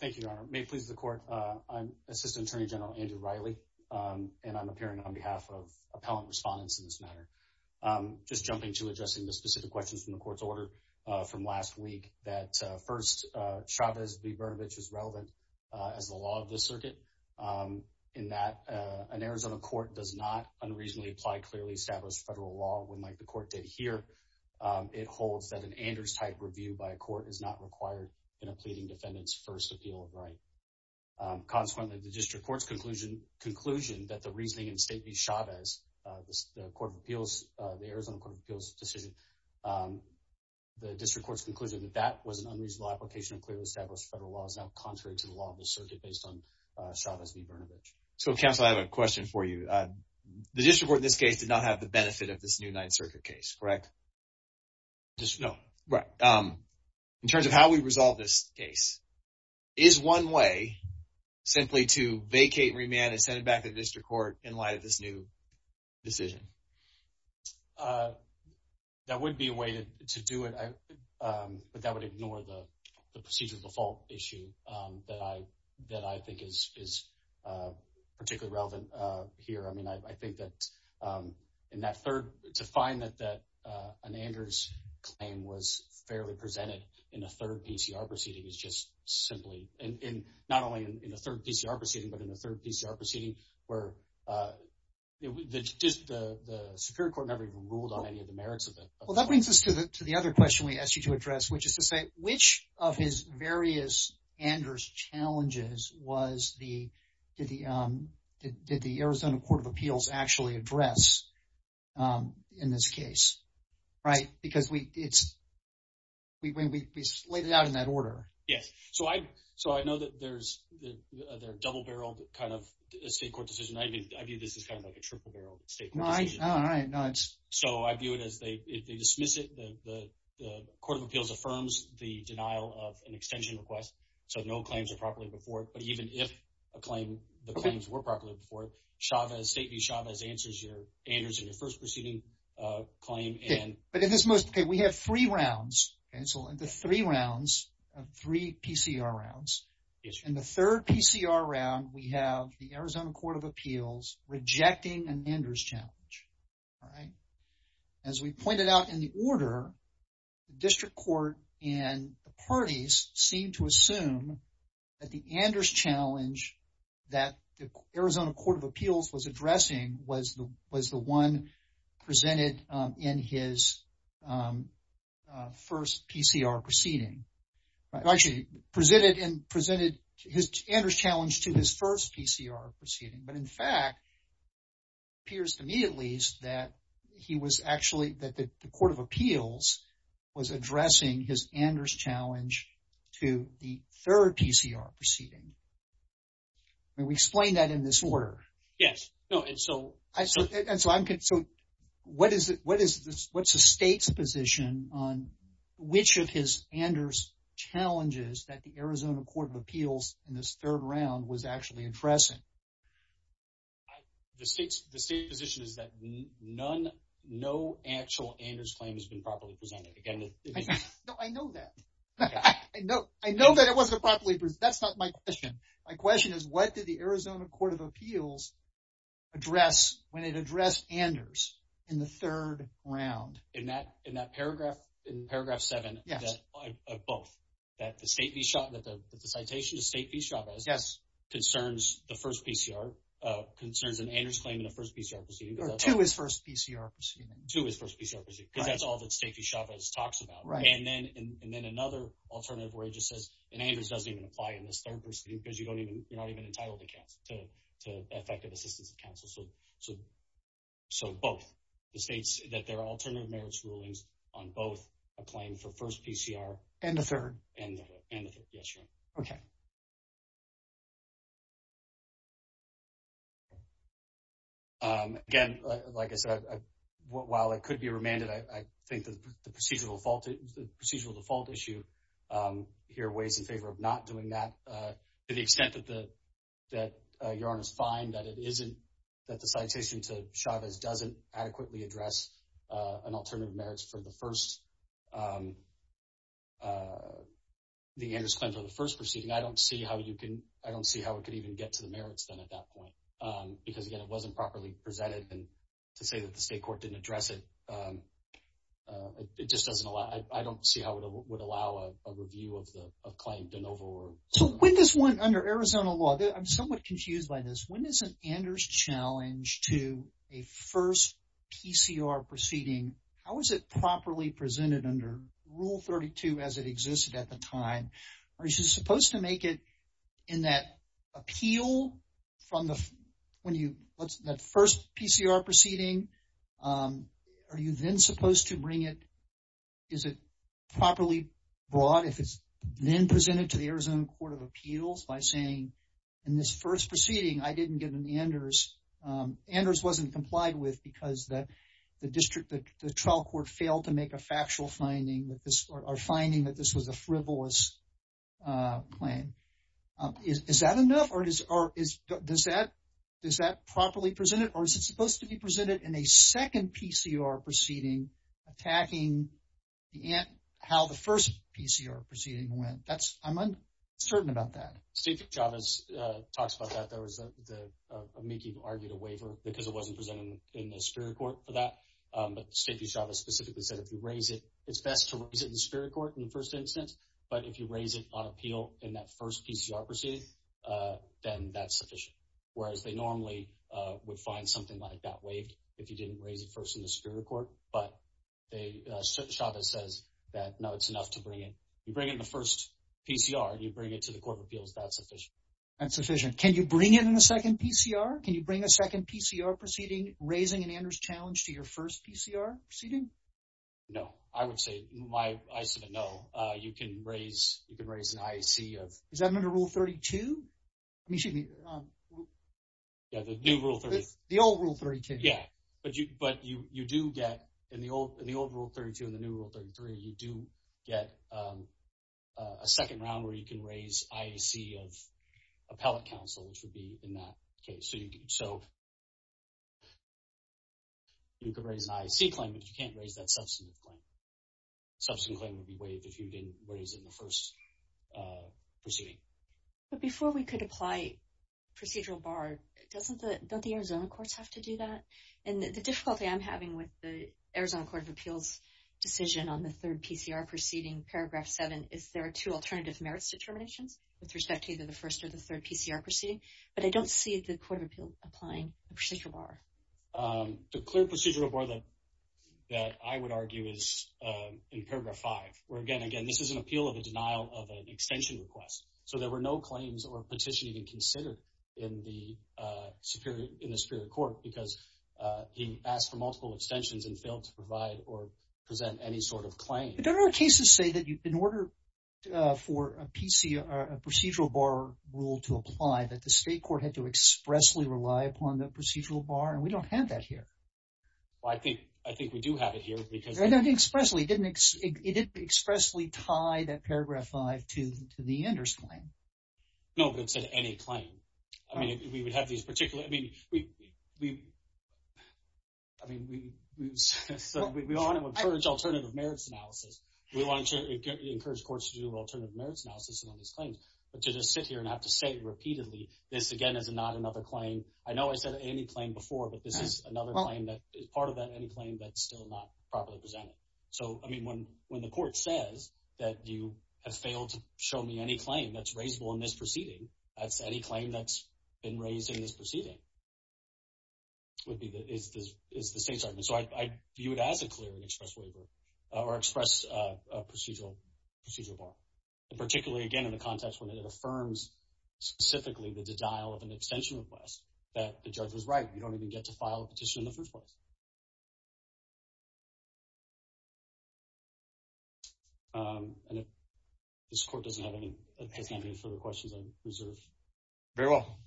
Thank you, Your Honor. May it please the court, I'm Assistant Attorney General Andrew Reilly and I'm appearing on behalf of appellant respondents in this matter. Just jumping to addressing the specific questions from the court's order from last week that first, Chavez v. Brnovich is relevant as the law of the circuit in that an Arizona court does not unreasonably apply clearly established federal law when like the court did here. It holds that Anders type review by a court is not required in a pleading defendant's first appeal of right. Consequently, the district court's conclusion that the reasoning in state v. Chavez, the Arizona Court of Appeals decision, the district court's conclusion that that was an unreasonable application of clearly established federal law is now contrary to the law of the circuit based on Chavez v. Brnovich. So counsel, I have a question for you. The district court in this case did not have the benefit of this new Ninth Circuit case, correct? No. In terms of how we resolve this case, is one way simply to vacate, remand, and send it back to the district court in light of this new decision? That would be a way to do it, but that would ignore the procedure default issue that I think is particularly relevant here. I mean, I think that, in that third, to find that an Anders claim was fairly presented in the third PCR proceeding is just simply, and not only in the third PCR proceeding, but in the third PCR proceeding, where the Superior Court never even ruled on any of the merits of it. Well, that brings us to the other question we asked you to address, which is to say, of his various Anders challenges, did the Arizona Court of Appeals actually address in this case, right? Because we laid it out in that order. Yes. So I know that there's a double-barreled kind of state court decision. I view this as kind of like a triple-barreled state court decision. So I view it as they dismiss it, the Court of Appeals affirms the denial of an extension request, so no claims are properly before it. But even if a claim, the claims were properly before it, Chavez, State v. Chavez answers your Anders in your first proceeding claim, and... But at this most, okay, we have three rounds, and so the three rounds of three PCR rounds. In the third PCR round, we have the Arizona Court of Appeals rejecting an Anders challenge, all right? As we pointed out in the order, the district court and the parties seem to assume that the Anders challenge that the Arizona Court of Appeals was addressing was the one presented in his first PCR proceeding. Actually, presented Anders challenge to his first PCR proceeding, but in fact, appears to me at least that he was actually, that the Court of Appeals was addressing his Anders challenge to the third PCR proceeding. May we explain that in this order? Yes. No, and so... So what's the state's position on which of his Anders challenges that the Arizona Court of Appeals presented? The state's position is that none, no actual Anders claim has been properly presented. Again... No, I know that. I know that it wasn't a properly... That's not my question. My question is, what did the Arizona Court of Appeals address when it addressed Anders in the third round? In that paragraph, in paragraph seven of both, that the State v. Chavez, that the citation to State v. Chavez concerns the first PCR, concerns an Anders claim in the first PCR proceeding. To his first PCR proceeding. To his first PCR proceeding, because that's all that State v. Chavez talks about. Right. And then another alternative where it just says, and Anders doesn't even apply in this third proceeding because you're not even entitled to effective assistance of counsel. So both, the states that there are alternative merits rulings on both a claim for first PCR... And the third. And the third. Yes, your honor. Okay. Again, like I said, while it could be remanded, I think the procedural default issue here weighs in favor of not doing that to the extent that your honors find that it isn't, that the citation to Chavez doesn't adequately address an alternative merits for the first... The Anders claim for the first proceeding. I don't see how you can, I don't see how it could even get to the merits then at that point. Because again, it wasn't properly presented. And to say that the State court didn't address it, it just doesn't allow, I don't see how it would allow a review of the claim de novo or... So with this one under Arizona law, I'm somewhat confused by this. When is an Anders challenge to a first PCR proceeding, how is it properly presented under rule 32 as it existed at the time? Are you supposed to make it in that appeal from the, when you, what's that first PCR proceeding? Are you then supposed to bring it, is it properly brought if it's then presented to the Arizona Court of Appeals by saying, in this first proceeding, I didn't get an Anders. Anders wasn't complied with because the district, the trial court failed to make a factual finding with this or finding that this was a frivolous claim. Is that enough or does that properly present it or is it supposed to be presented in a second PCR proceeding attacking how the first PCR proceeding went? That's, I'm uncertain about that. State v. Chavez talks about that. There was a, Miki argued a waiver because it wasn't presented in the Superior Court for that. But State v. Chavez specifically said, if you raise it, it's best to raise it in the Superior Court in the first instance. But if you raise it on appeal in that first PCR proceeding, then that's sufficient. Whereas they normally would find something like that waived if you didn't raise it first in the Superior Court. But Chavez says that, no, it's enough to bring it. You bring it in the first PCR and you bring it to the Court of Appeals, that's sufficient. That's sufficient. Can you bring it in the second PCR? Can you bring a second PCR proceeding raising an Anders challenge to your first PCR proceeding? No. I would say, I submit no. You can raise an IEC of... Is that under Rule 32? I mean, excuse me. Yeah, the new Rule 32. The old Rule 32. Yeah. But you do get, in the old Rule 32, and the new Rule 33, you do get a second round where you can raise IEC of appellate counsel, which would be in that case. So you could raise an IEC claim, but you can't raise that substantive claim. Substantive claim would be waived if you didn't raise it in the first proceeding. But before we could apply procedural bar, don't the Arizona courts have to do that? And the difficulty I'm having with the Arizona Court of Appeals decision on the third PCR proceeding, paragraph seven, is there are two alternative merits determinations with respect to either the first or the third PCR proceeding, but I don't see the Court of Appeals applying the procedural bar. The clear procedural bar that I would argue is in paragraph five, where again, again, this is an appeal of a denial of an extension request. So there were no claims or petition even considered in the Superior Court because he asked for multiple extensions and failed to provide or present any sort of claim. But don't our cases say that in order for a procedural bar rule to apply, that the state court had to expressly rely upon the procedural bar, and we don't have that here. Well, I think we do have it here because- Expressly, it didn't expressly tie that paragraph five to the ender's claim. No, but it said any claim. I mean, we would have these particular, I mean, I mean, we want to encourage alternative merits analysis. We want to encourage courts to do alternative merits analysis on these claims. But to just sit here and have to say repeatedly, this again is not another claim. I know I said any claim before, but this is another claim that is part of that any claim that's still not properly presented. So, I mean, when the court says that you have failed to show me any claim that's raisable in this proceeding, that's any claim that's been raised in this proceeding would be the, is the state's argument. So I view it as a clear and express waiver or express procedural bar. And particularly again, in the context when it affirms specifically the denial of an extension request, that the judge was right. You don't even get to file a petition in the first place. And if this court doesn't have any further questions, we reserve. Very well.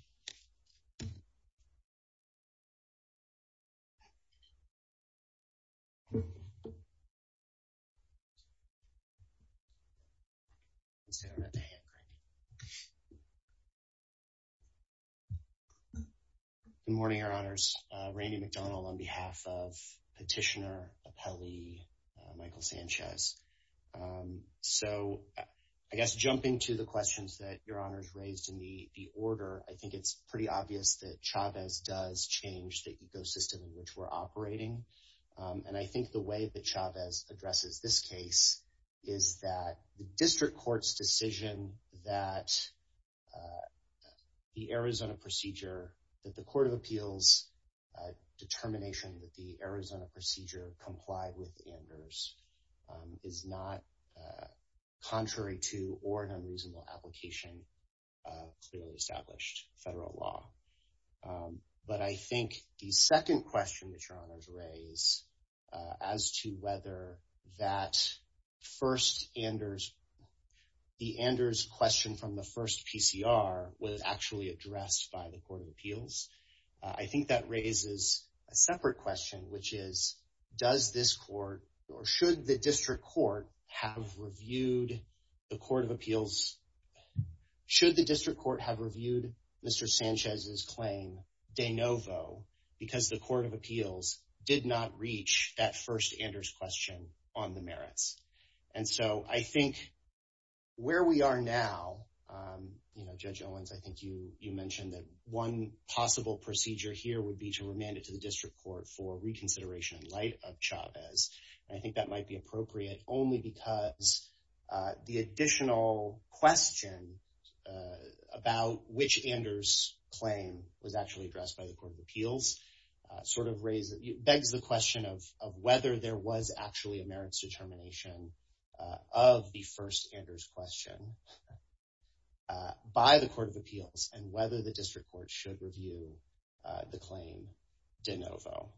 Good morning, Your Honors. Randy McDonald on behalf of Petitioner, Appellee Michael Sanchez. So I guess jumping to the questions that Your Honors raised in the order, I think it's pretty obvious that Chavez does change the ecosystem in which we're operating. And I think the way that Chavez addresses this case is that the district court's decision that the Arizona procedure, that the court of appeals determination that the Arizona procedure complied with Anders is not contrary to or an unreasonable application of clearly established federal law. But I think the second question that Your Honors raise as to whether that first Anders, the Anders question from the first PCR was actually addressed by the court of appeals. I think that raises a separate question, which is, does this court or should the district court have reviewed the court of appeals? Should the district court have reviewed Mr. Sanchez's claim de novo because the court of appeals did not reach that first Anders question on the merits? And so I think where we are now, Judge Owens, I think you mentioned that one possible procedure here would be to remand it to the district court for reconsideration in light of Chavez. And I think that might be appropriate only because the additional question about which Anders claim was actually addressed by the court of appeals sort of begs the question of whether there was actually a merits determination of the first Anders question by the court of appeals and whether the district court should review the claim de novo.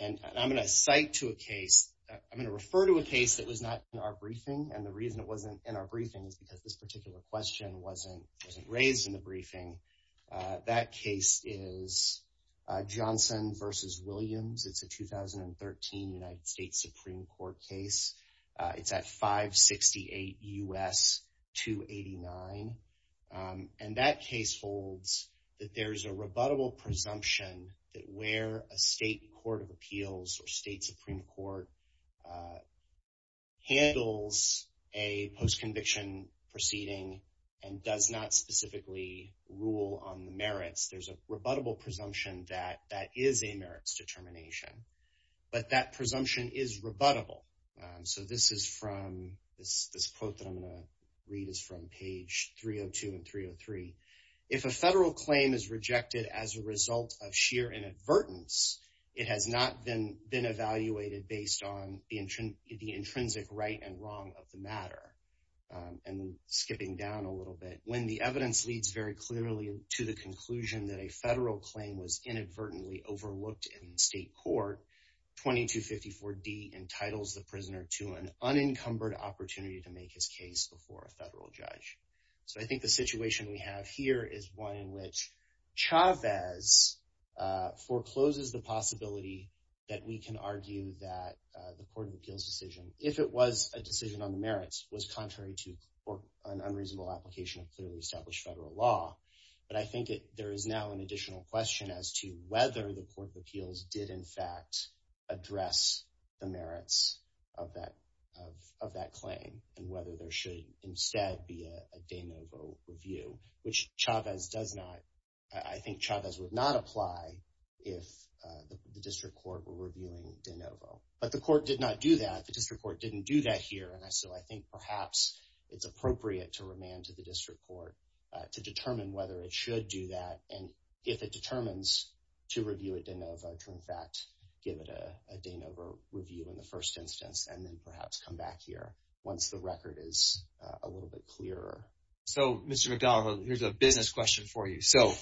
And I'm going to cite to a case, I'm going to refer to a case that was not in our briefing. And the reason it wasn't in our briefing is because this particular question wasn't raised in the briefing. That case is Johnson versus Williams. It's a 2013 United States Supreme Court case. It's at 568 U.S. 289. And that case holds that there's a rebuttable presumption that where a state court of appeals or state Supreme Court handles a post-conviction proceeding and does not specifically rule on the that is a merits determination. But that presumption is rebuttable. So this is from this quote that I'm going to read is from page 302 and 303. If a federal claim is rejected as a result of sheer inadvertence, it has not been evaluated based on the intrinsic right and wrong of the matter. And skipping down a little bit, when the evidence leads very clearly to the overlooked in state court, 2254D entitles the prisoner to an unencumbered opportunity to make his case before a federal judge. So I think the situation we have here is one in which Chavez forecloses the possibility that we can argue that the court of appeals decision, if it was a decision on the merits, was contrary to an unreasonable application of clearly established law. But I think there is now an additional question as to whether the court of appeals did in fact address the merits of that claim and whether there should instead be a de novo review, which Chavez does not. I think Chavez would not apply if the district court were reviewing de novo. But the court did not do that. The district court didn't do that here. And so I think perhaps it's appropriate to remand to the district court to determine whether it should do that. And if it determines to review a de novo, to in fact give it a de novo review in the first instance, and then perhaps come back here once the record is a little bit clearer. So Mr. McDonough, here's a business question for you. So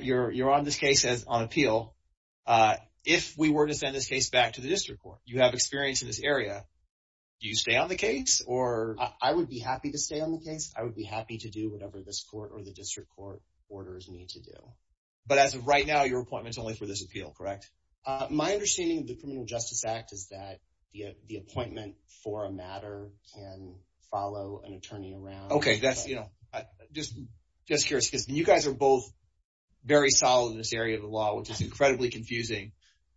you're on this case on appeal. If we were to send this case back to the district court, you have experience in this area, do you stay on the case? I would be happy to stay on the case. I would be happy to do whatever this court or the district court orders me to do. But as of right now, your appointment is only for this appeal, correct? My understanding of the Criminal Justice Act is that the appointment for a matter can follow an attorney around. Okay. Just curious, because you guys are both very solid in this area of the law, which is incredibly confusing,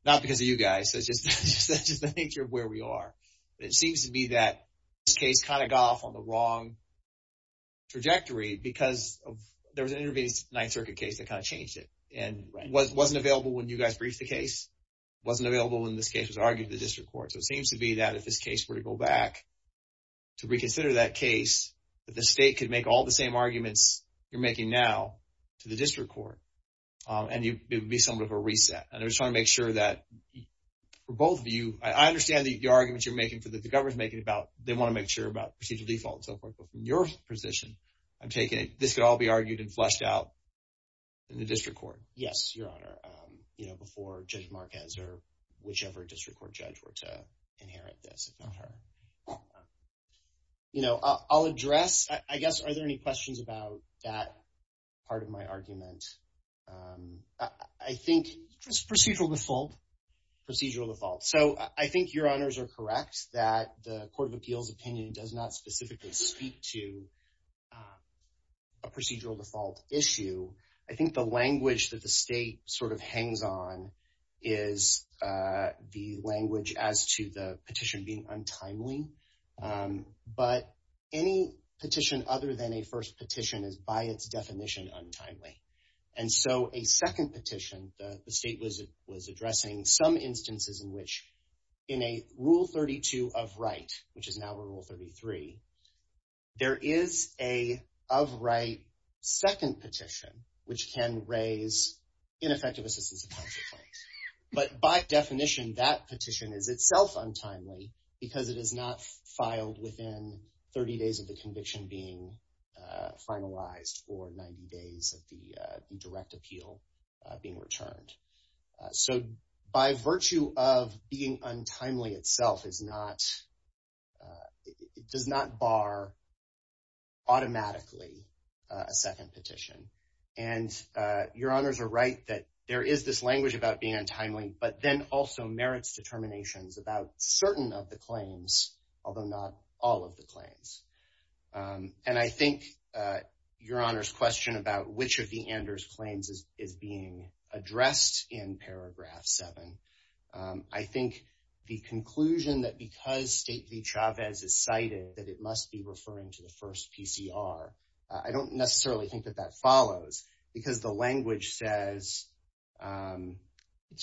not because of you guys, it's just the nature of where we are. It seems to be that this case kind of got off on the wrong trajectory because there was an intervening Ninth Circuit case that kind of changed it. And it wasn't available when you guys briefed the case. It wasn't available when this case was argued to the district court. So it seems to be that if this case were to go back to reconsider that case, that the state could make all the same arguments you're making now to the district court. And it would be somewhat of a reset. And I just want to make sure that for both of you, I understand the arguments you're making, the government's making about they want to make sure about procedural default and so forth. But from your position, I'm taking it, this could all be argued and fleshed out in the district court? Yes, Your Honor. Before Judge Marquez or whichever district court judge were to inherit this, I'll address, I guess, are there any questions about that part of my argument? I think just procedural default. Procedural default. So I think Your Honors are correct that the Court of Appeals opinion does not specifically speak to a procedural default issue. I think the language that the state sort of hangs on is the language as to the petition being untimely. But any petition other than a first petition is by its definition untimely. And so a second petition, the state was addressing some instances in which in a Rule 32 of right, which is now Rule 33, there is a of right second petition, which can raise ineffective assistance claims. But by definition, that petition is itself untimely because it is not filed within 30 days of the conviction being finalized or 90 days of the direct appeal being returned. So by virtue of being untimely itself does not bar automatically a second petition. And Your Honors are right that there is this language about being untimely, but then also merits determinations about certain of the claims, although not all of the claims. And I think Your Honors question about which of the Anders claims is being addressed in paragraph seven. I think the conclusion that because State v. Chavez is cited that it must be referring to first PCR. I don't necessarily think that that follows because the language says,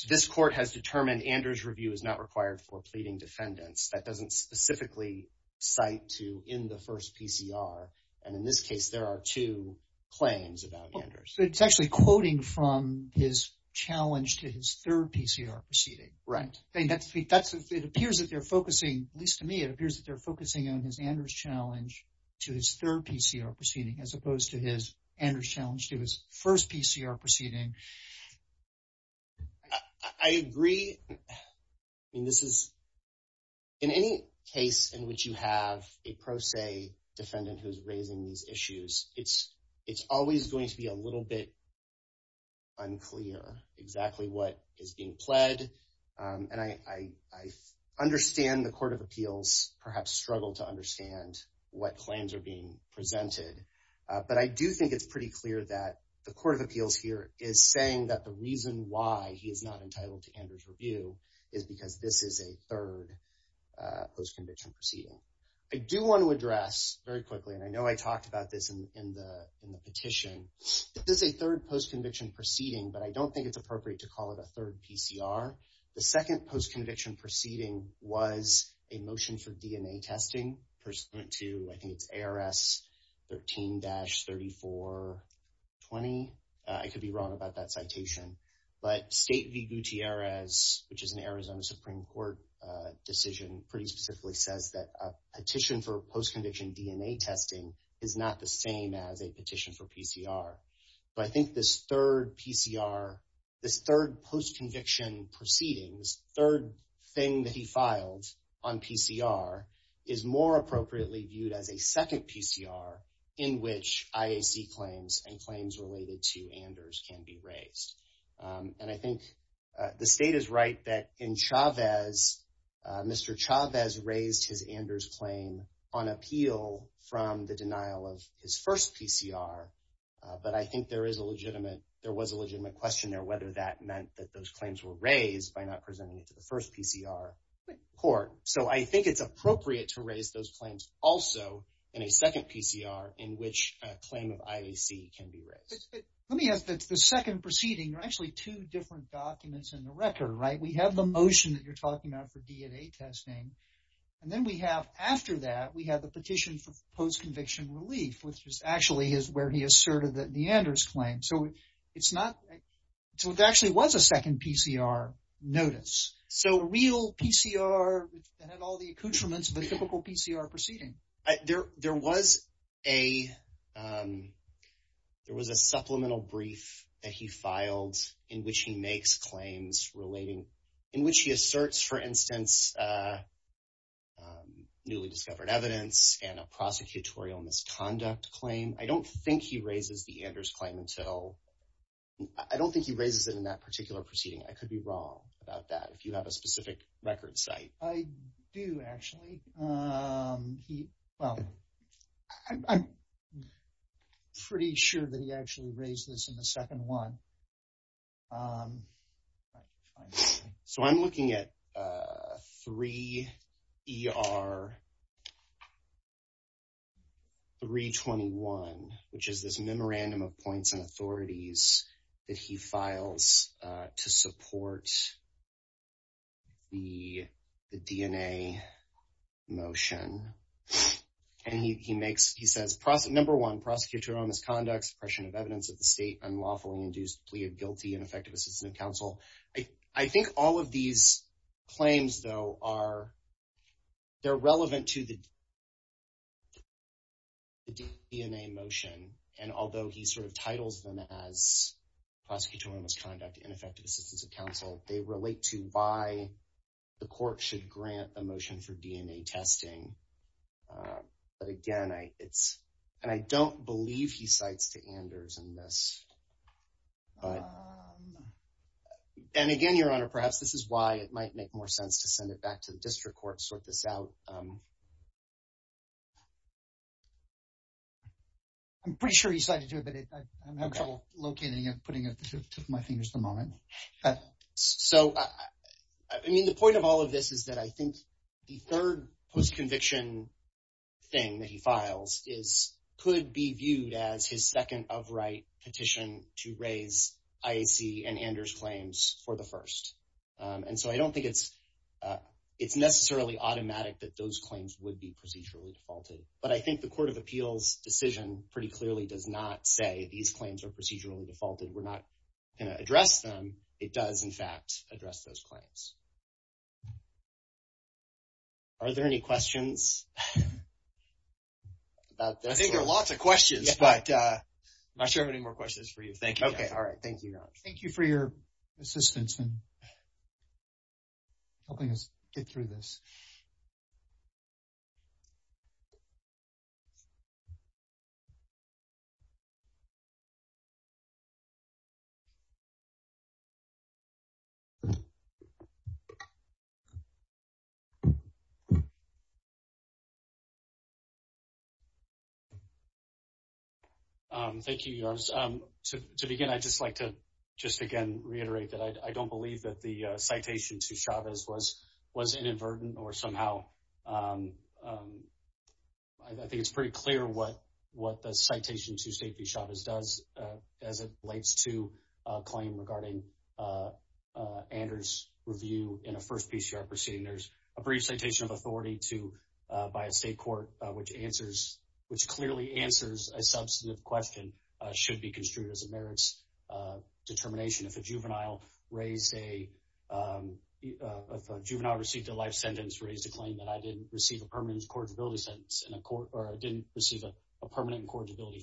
this court has determined Anders review is not required for pleading defendants. That doesn't specifically cite to in the first PCR. And in this case, there are two claims about Anders. So it's actually quoting from his challenge to his third PCR proceeding. Right. It appears that they're focusing, at least to me, it appears that they're focusing on his Anders challenge to his third PCR proceeding, as opposed to his Anders challenge to his first PCR proceeding. I agree. I mean, this is in any case in which you have a pro se defendant who's raising these issues, it's always going to be a little bit unclear exactly what is being pled. And I what claims are being presented. But I do think it's pretty clear that the Court of Appeals here is saying that the reason why he is not entitled to Anders review is because this is a third post conviction proceeding. I do want to address very quickly, and I know I talked about this in the petition. This is a third post conviction proceeding, but I don't think it's appropriate to call it a third PCR. The second post conviction proceeding was a motion for DNA testing pursuant to I think it's ARS 13-3420. I could be wrong about that citation. But state v Gutierrez, which is an Arizona Supreme Court decision pretty specifically says that a petition for post conviction DNA testing is not the same as a petition for PCR. But I think this third PCR, this third post conviction proceedings, third thing that he filed on PCR is more appropriately viewed as a second PCR in which IAC claims and claims related to Anders can be raised. And I think the state is right that in Chavez, Mr. Chavez raised his first PCR, but I think there was a legitimate question there whether that meant that those claims were raised by not presenting it to the first PCR court. So I think it's appropriate to raise those claims also in a second PCR in which a claim of IAC can be raised. Let me ask that the second proceeding, there are actually two different documents in the record, right? We have the motion that you're talking about for DNA testing. And then we have after that, we have the petition for post conviction relief, which is actually where he asserted that the Anders claim. So it's not, so it actually was a second PCR notice. So real PCR that had all the accoutrements of a typical PCR proceeding. There was a, there was a supplemental brief that he filed in which he makes claims relating, in which he asserts for instance, newly discovered evidence and a prosecutorial misconduct claim. I don't think he raises the Anders claim until, I don't think he raises it in that particular proceeding. I could be wrong about that if you have a specific record site. I do actually. He, well, I'm pretty sure that he actually raised this in the second one. So I'm looking at 3ER321, which is this memorandum of points and authorities that he files to support the DNA motion. And he makes, he says, number one, prosecutorial misconduct, suppression of evidence at the state, unlawfully induced plea of guilty, ineffective assistance of counsel. I think all of these claims though are, they're relevant to the DNA motion. And although he sort of titles them as prosecutorial misconduct, ineffective assistance of counsel, they relate to why the court should grant a motion for DNA motion. And again, your honor, perhaps this is why it might make more sense to send it back to the district court, sort this out. I'm pretty sure he cited you, but I'm having trouble locating and putting it to my fingers at the moment. So, I mean, the point of all of this is that I think the third post-conviction thing that he files could be viewed as his second of right petition to raise IAC and Anders claims for the first. And so I don't think it's necessarily automatic that those claims would be procedurally defaulted, but I think the court of appeals decision pretty clearly does not say these claims are procedurally defaulted. We're not going to address them. It does in fact address those claims. Are there any questions? I think there are lots of questions, but I'm not sure how many more questions for you. Thank you. Okay. All right. Thank you, Your Honor. Thank you for your assistance in helping us get through this. Thank you, Your Honor. To begin, I'd just like to just again reiterate that I don't believe that the citation to Chavez was inadvertent or somehow. I think it's pretty clear what the citation to safety Chavez does as it relates to a claim regarding Anders' review in a first PCR proceeding. There's a brief citation of authority by a state court, which clearly answers a substantive question should be construed as a merits determination. If a juvenile received a life sentence, raised a claim that I didn't receive a permanent incorrigibility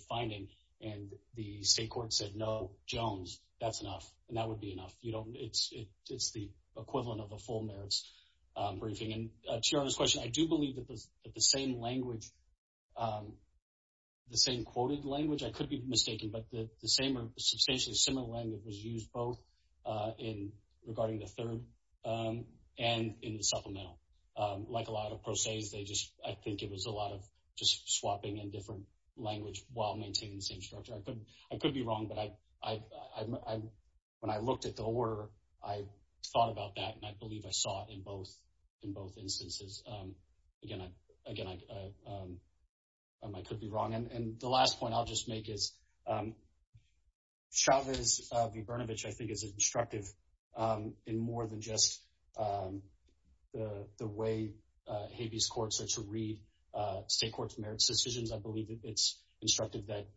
finding, and the state court said, no, Jones, that's enough. And that would be enough. It's the briefing. And to Your Honor's question, I do believe that the same language, the same quoted language, I could be mistaken, but the same or substantially similar language was used both in regarding the third and in the supplemental. Like a lot of pro ses, they just, I think it was a lot of just swapping in different language while maintaining the same structure. I could be wrong, but when I looked at the order, I thought about that, and I believe I saw it in both instances. Again, I could be wrong. And the last point I'll just make is Chavez v. Brnovich, I think is instructive in more than just the way habeas courts are to read state courts merits decisions. I believe it's instructive that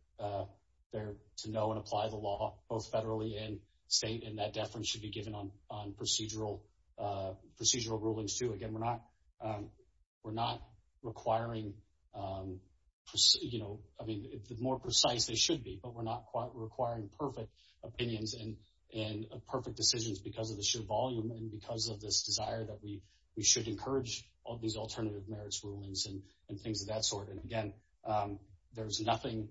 they're to know and apply the procedural rulings, too. Again, we're not requiring, I mean, the more precise they should be, but we're not requiring perfect opinions and perfect decisions because of the sheer volume and because of this desire that we should encourage all these alternative merits rulings and things of that sort. And again, there's nothing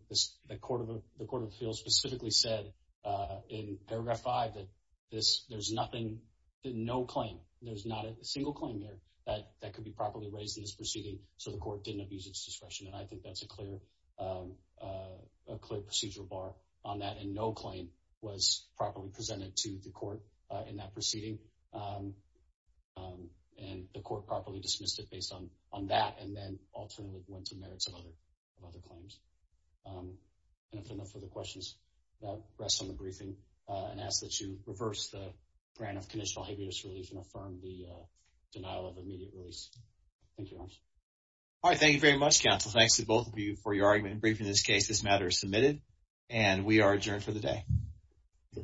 the court of appeals specifically said in paragraph five that there's nothing, no claim, there's not a single claim here that could be properly raised in this proceeding. So the court didn't abuse its discretion, and I think that's a clear procedural bar on that. And no claim was properly presented to the court in that proceeding. And the court properly dismissed it based on that, and then alternately went to merits of other claims. And if there are no further questions, rest on the briefing and ask that you reverse the grant of conditional habeas relief and affirm the denial of immediate release. Thank you very much. All right. Thank you very much, counsel. Thanks to both of you for your argument in briefing this case. This matter is submitted, and we are adjourned for the day.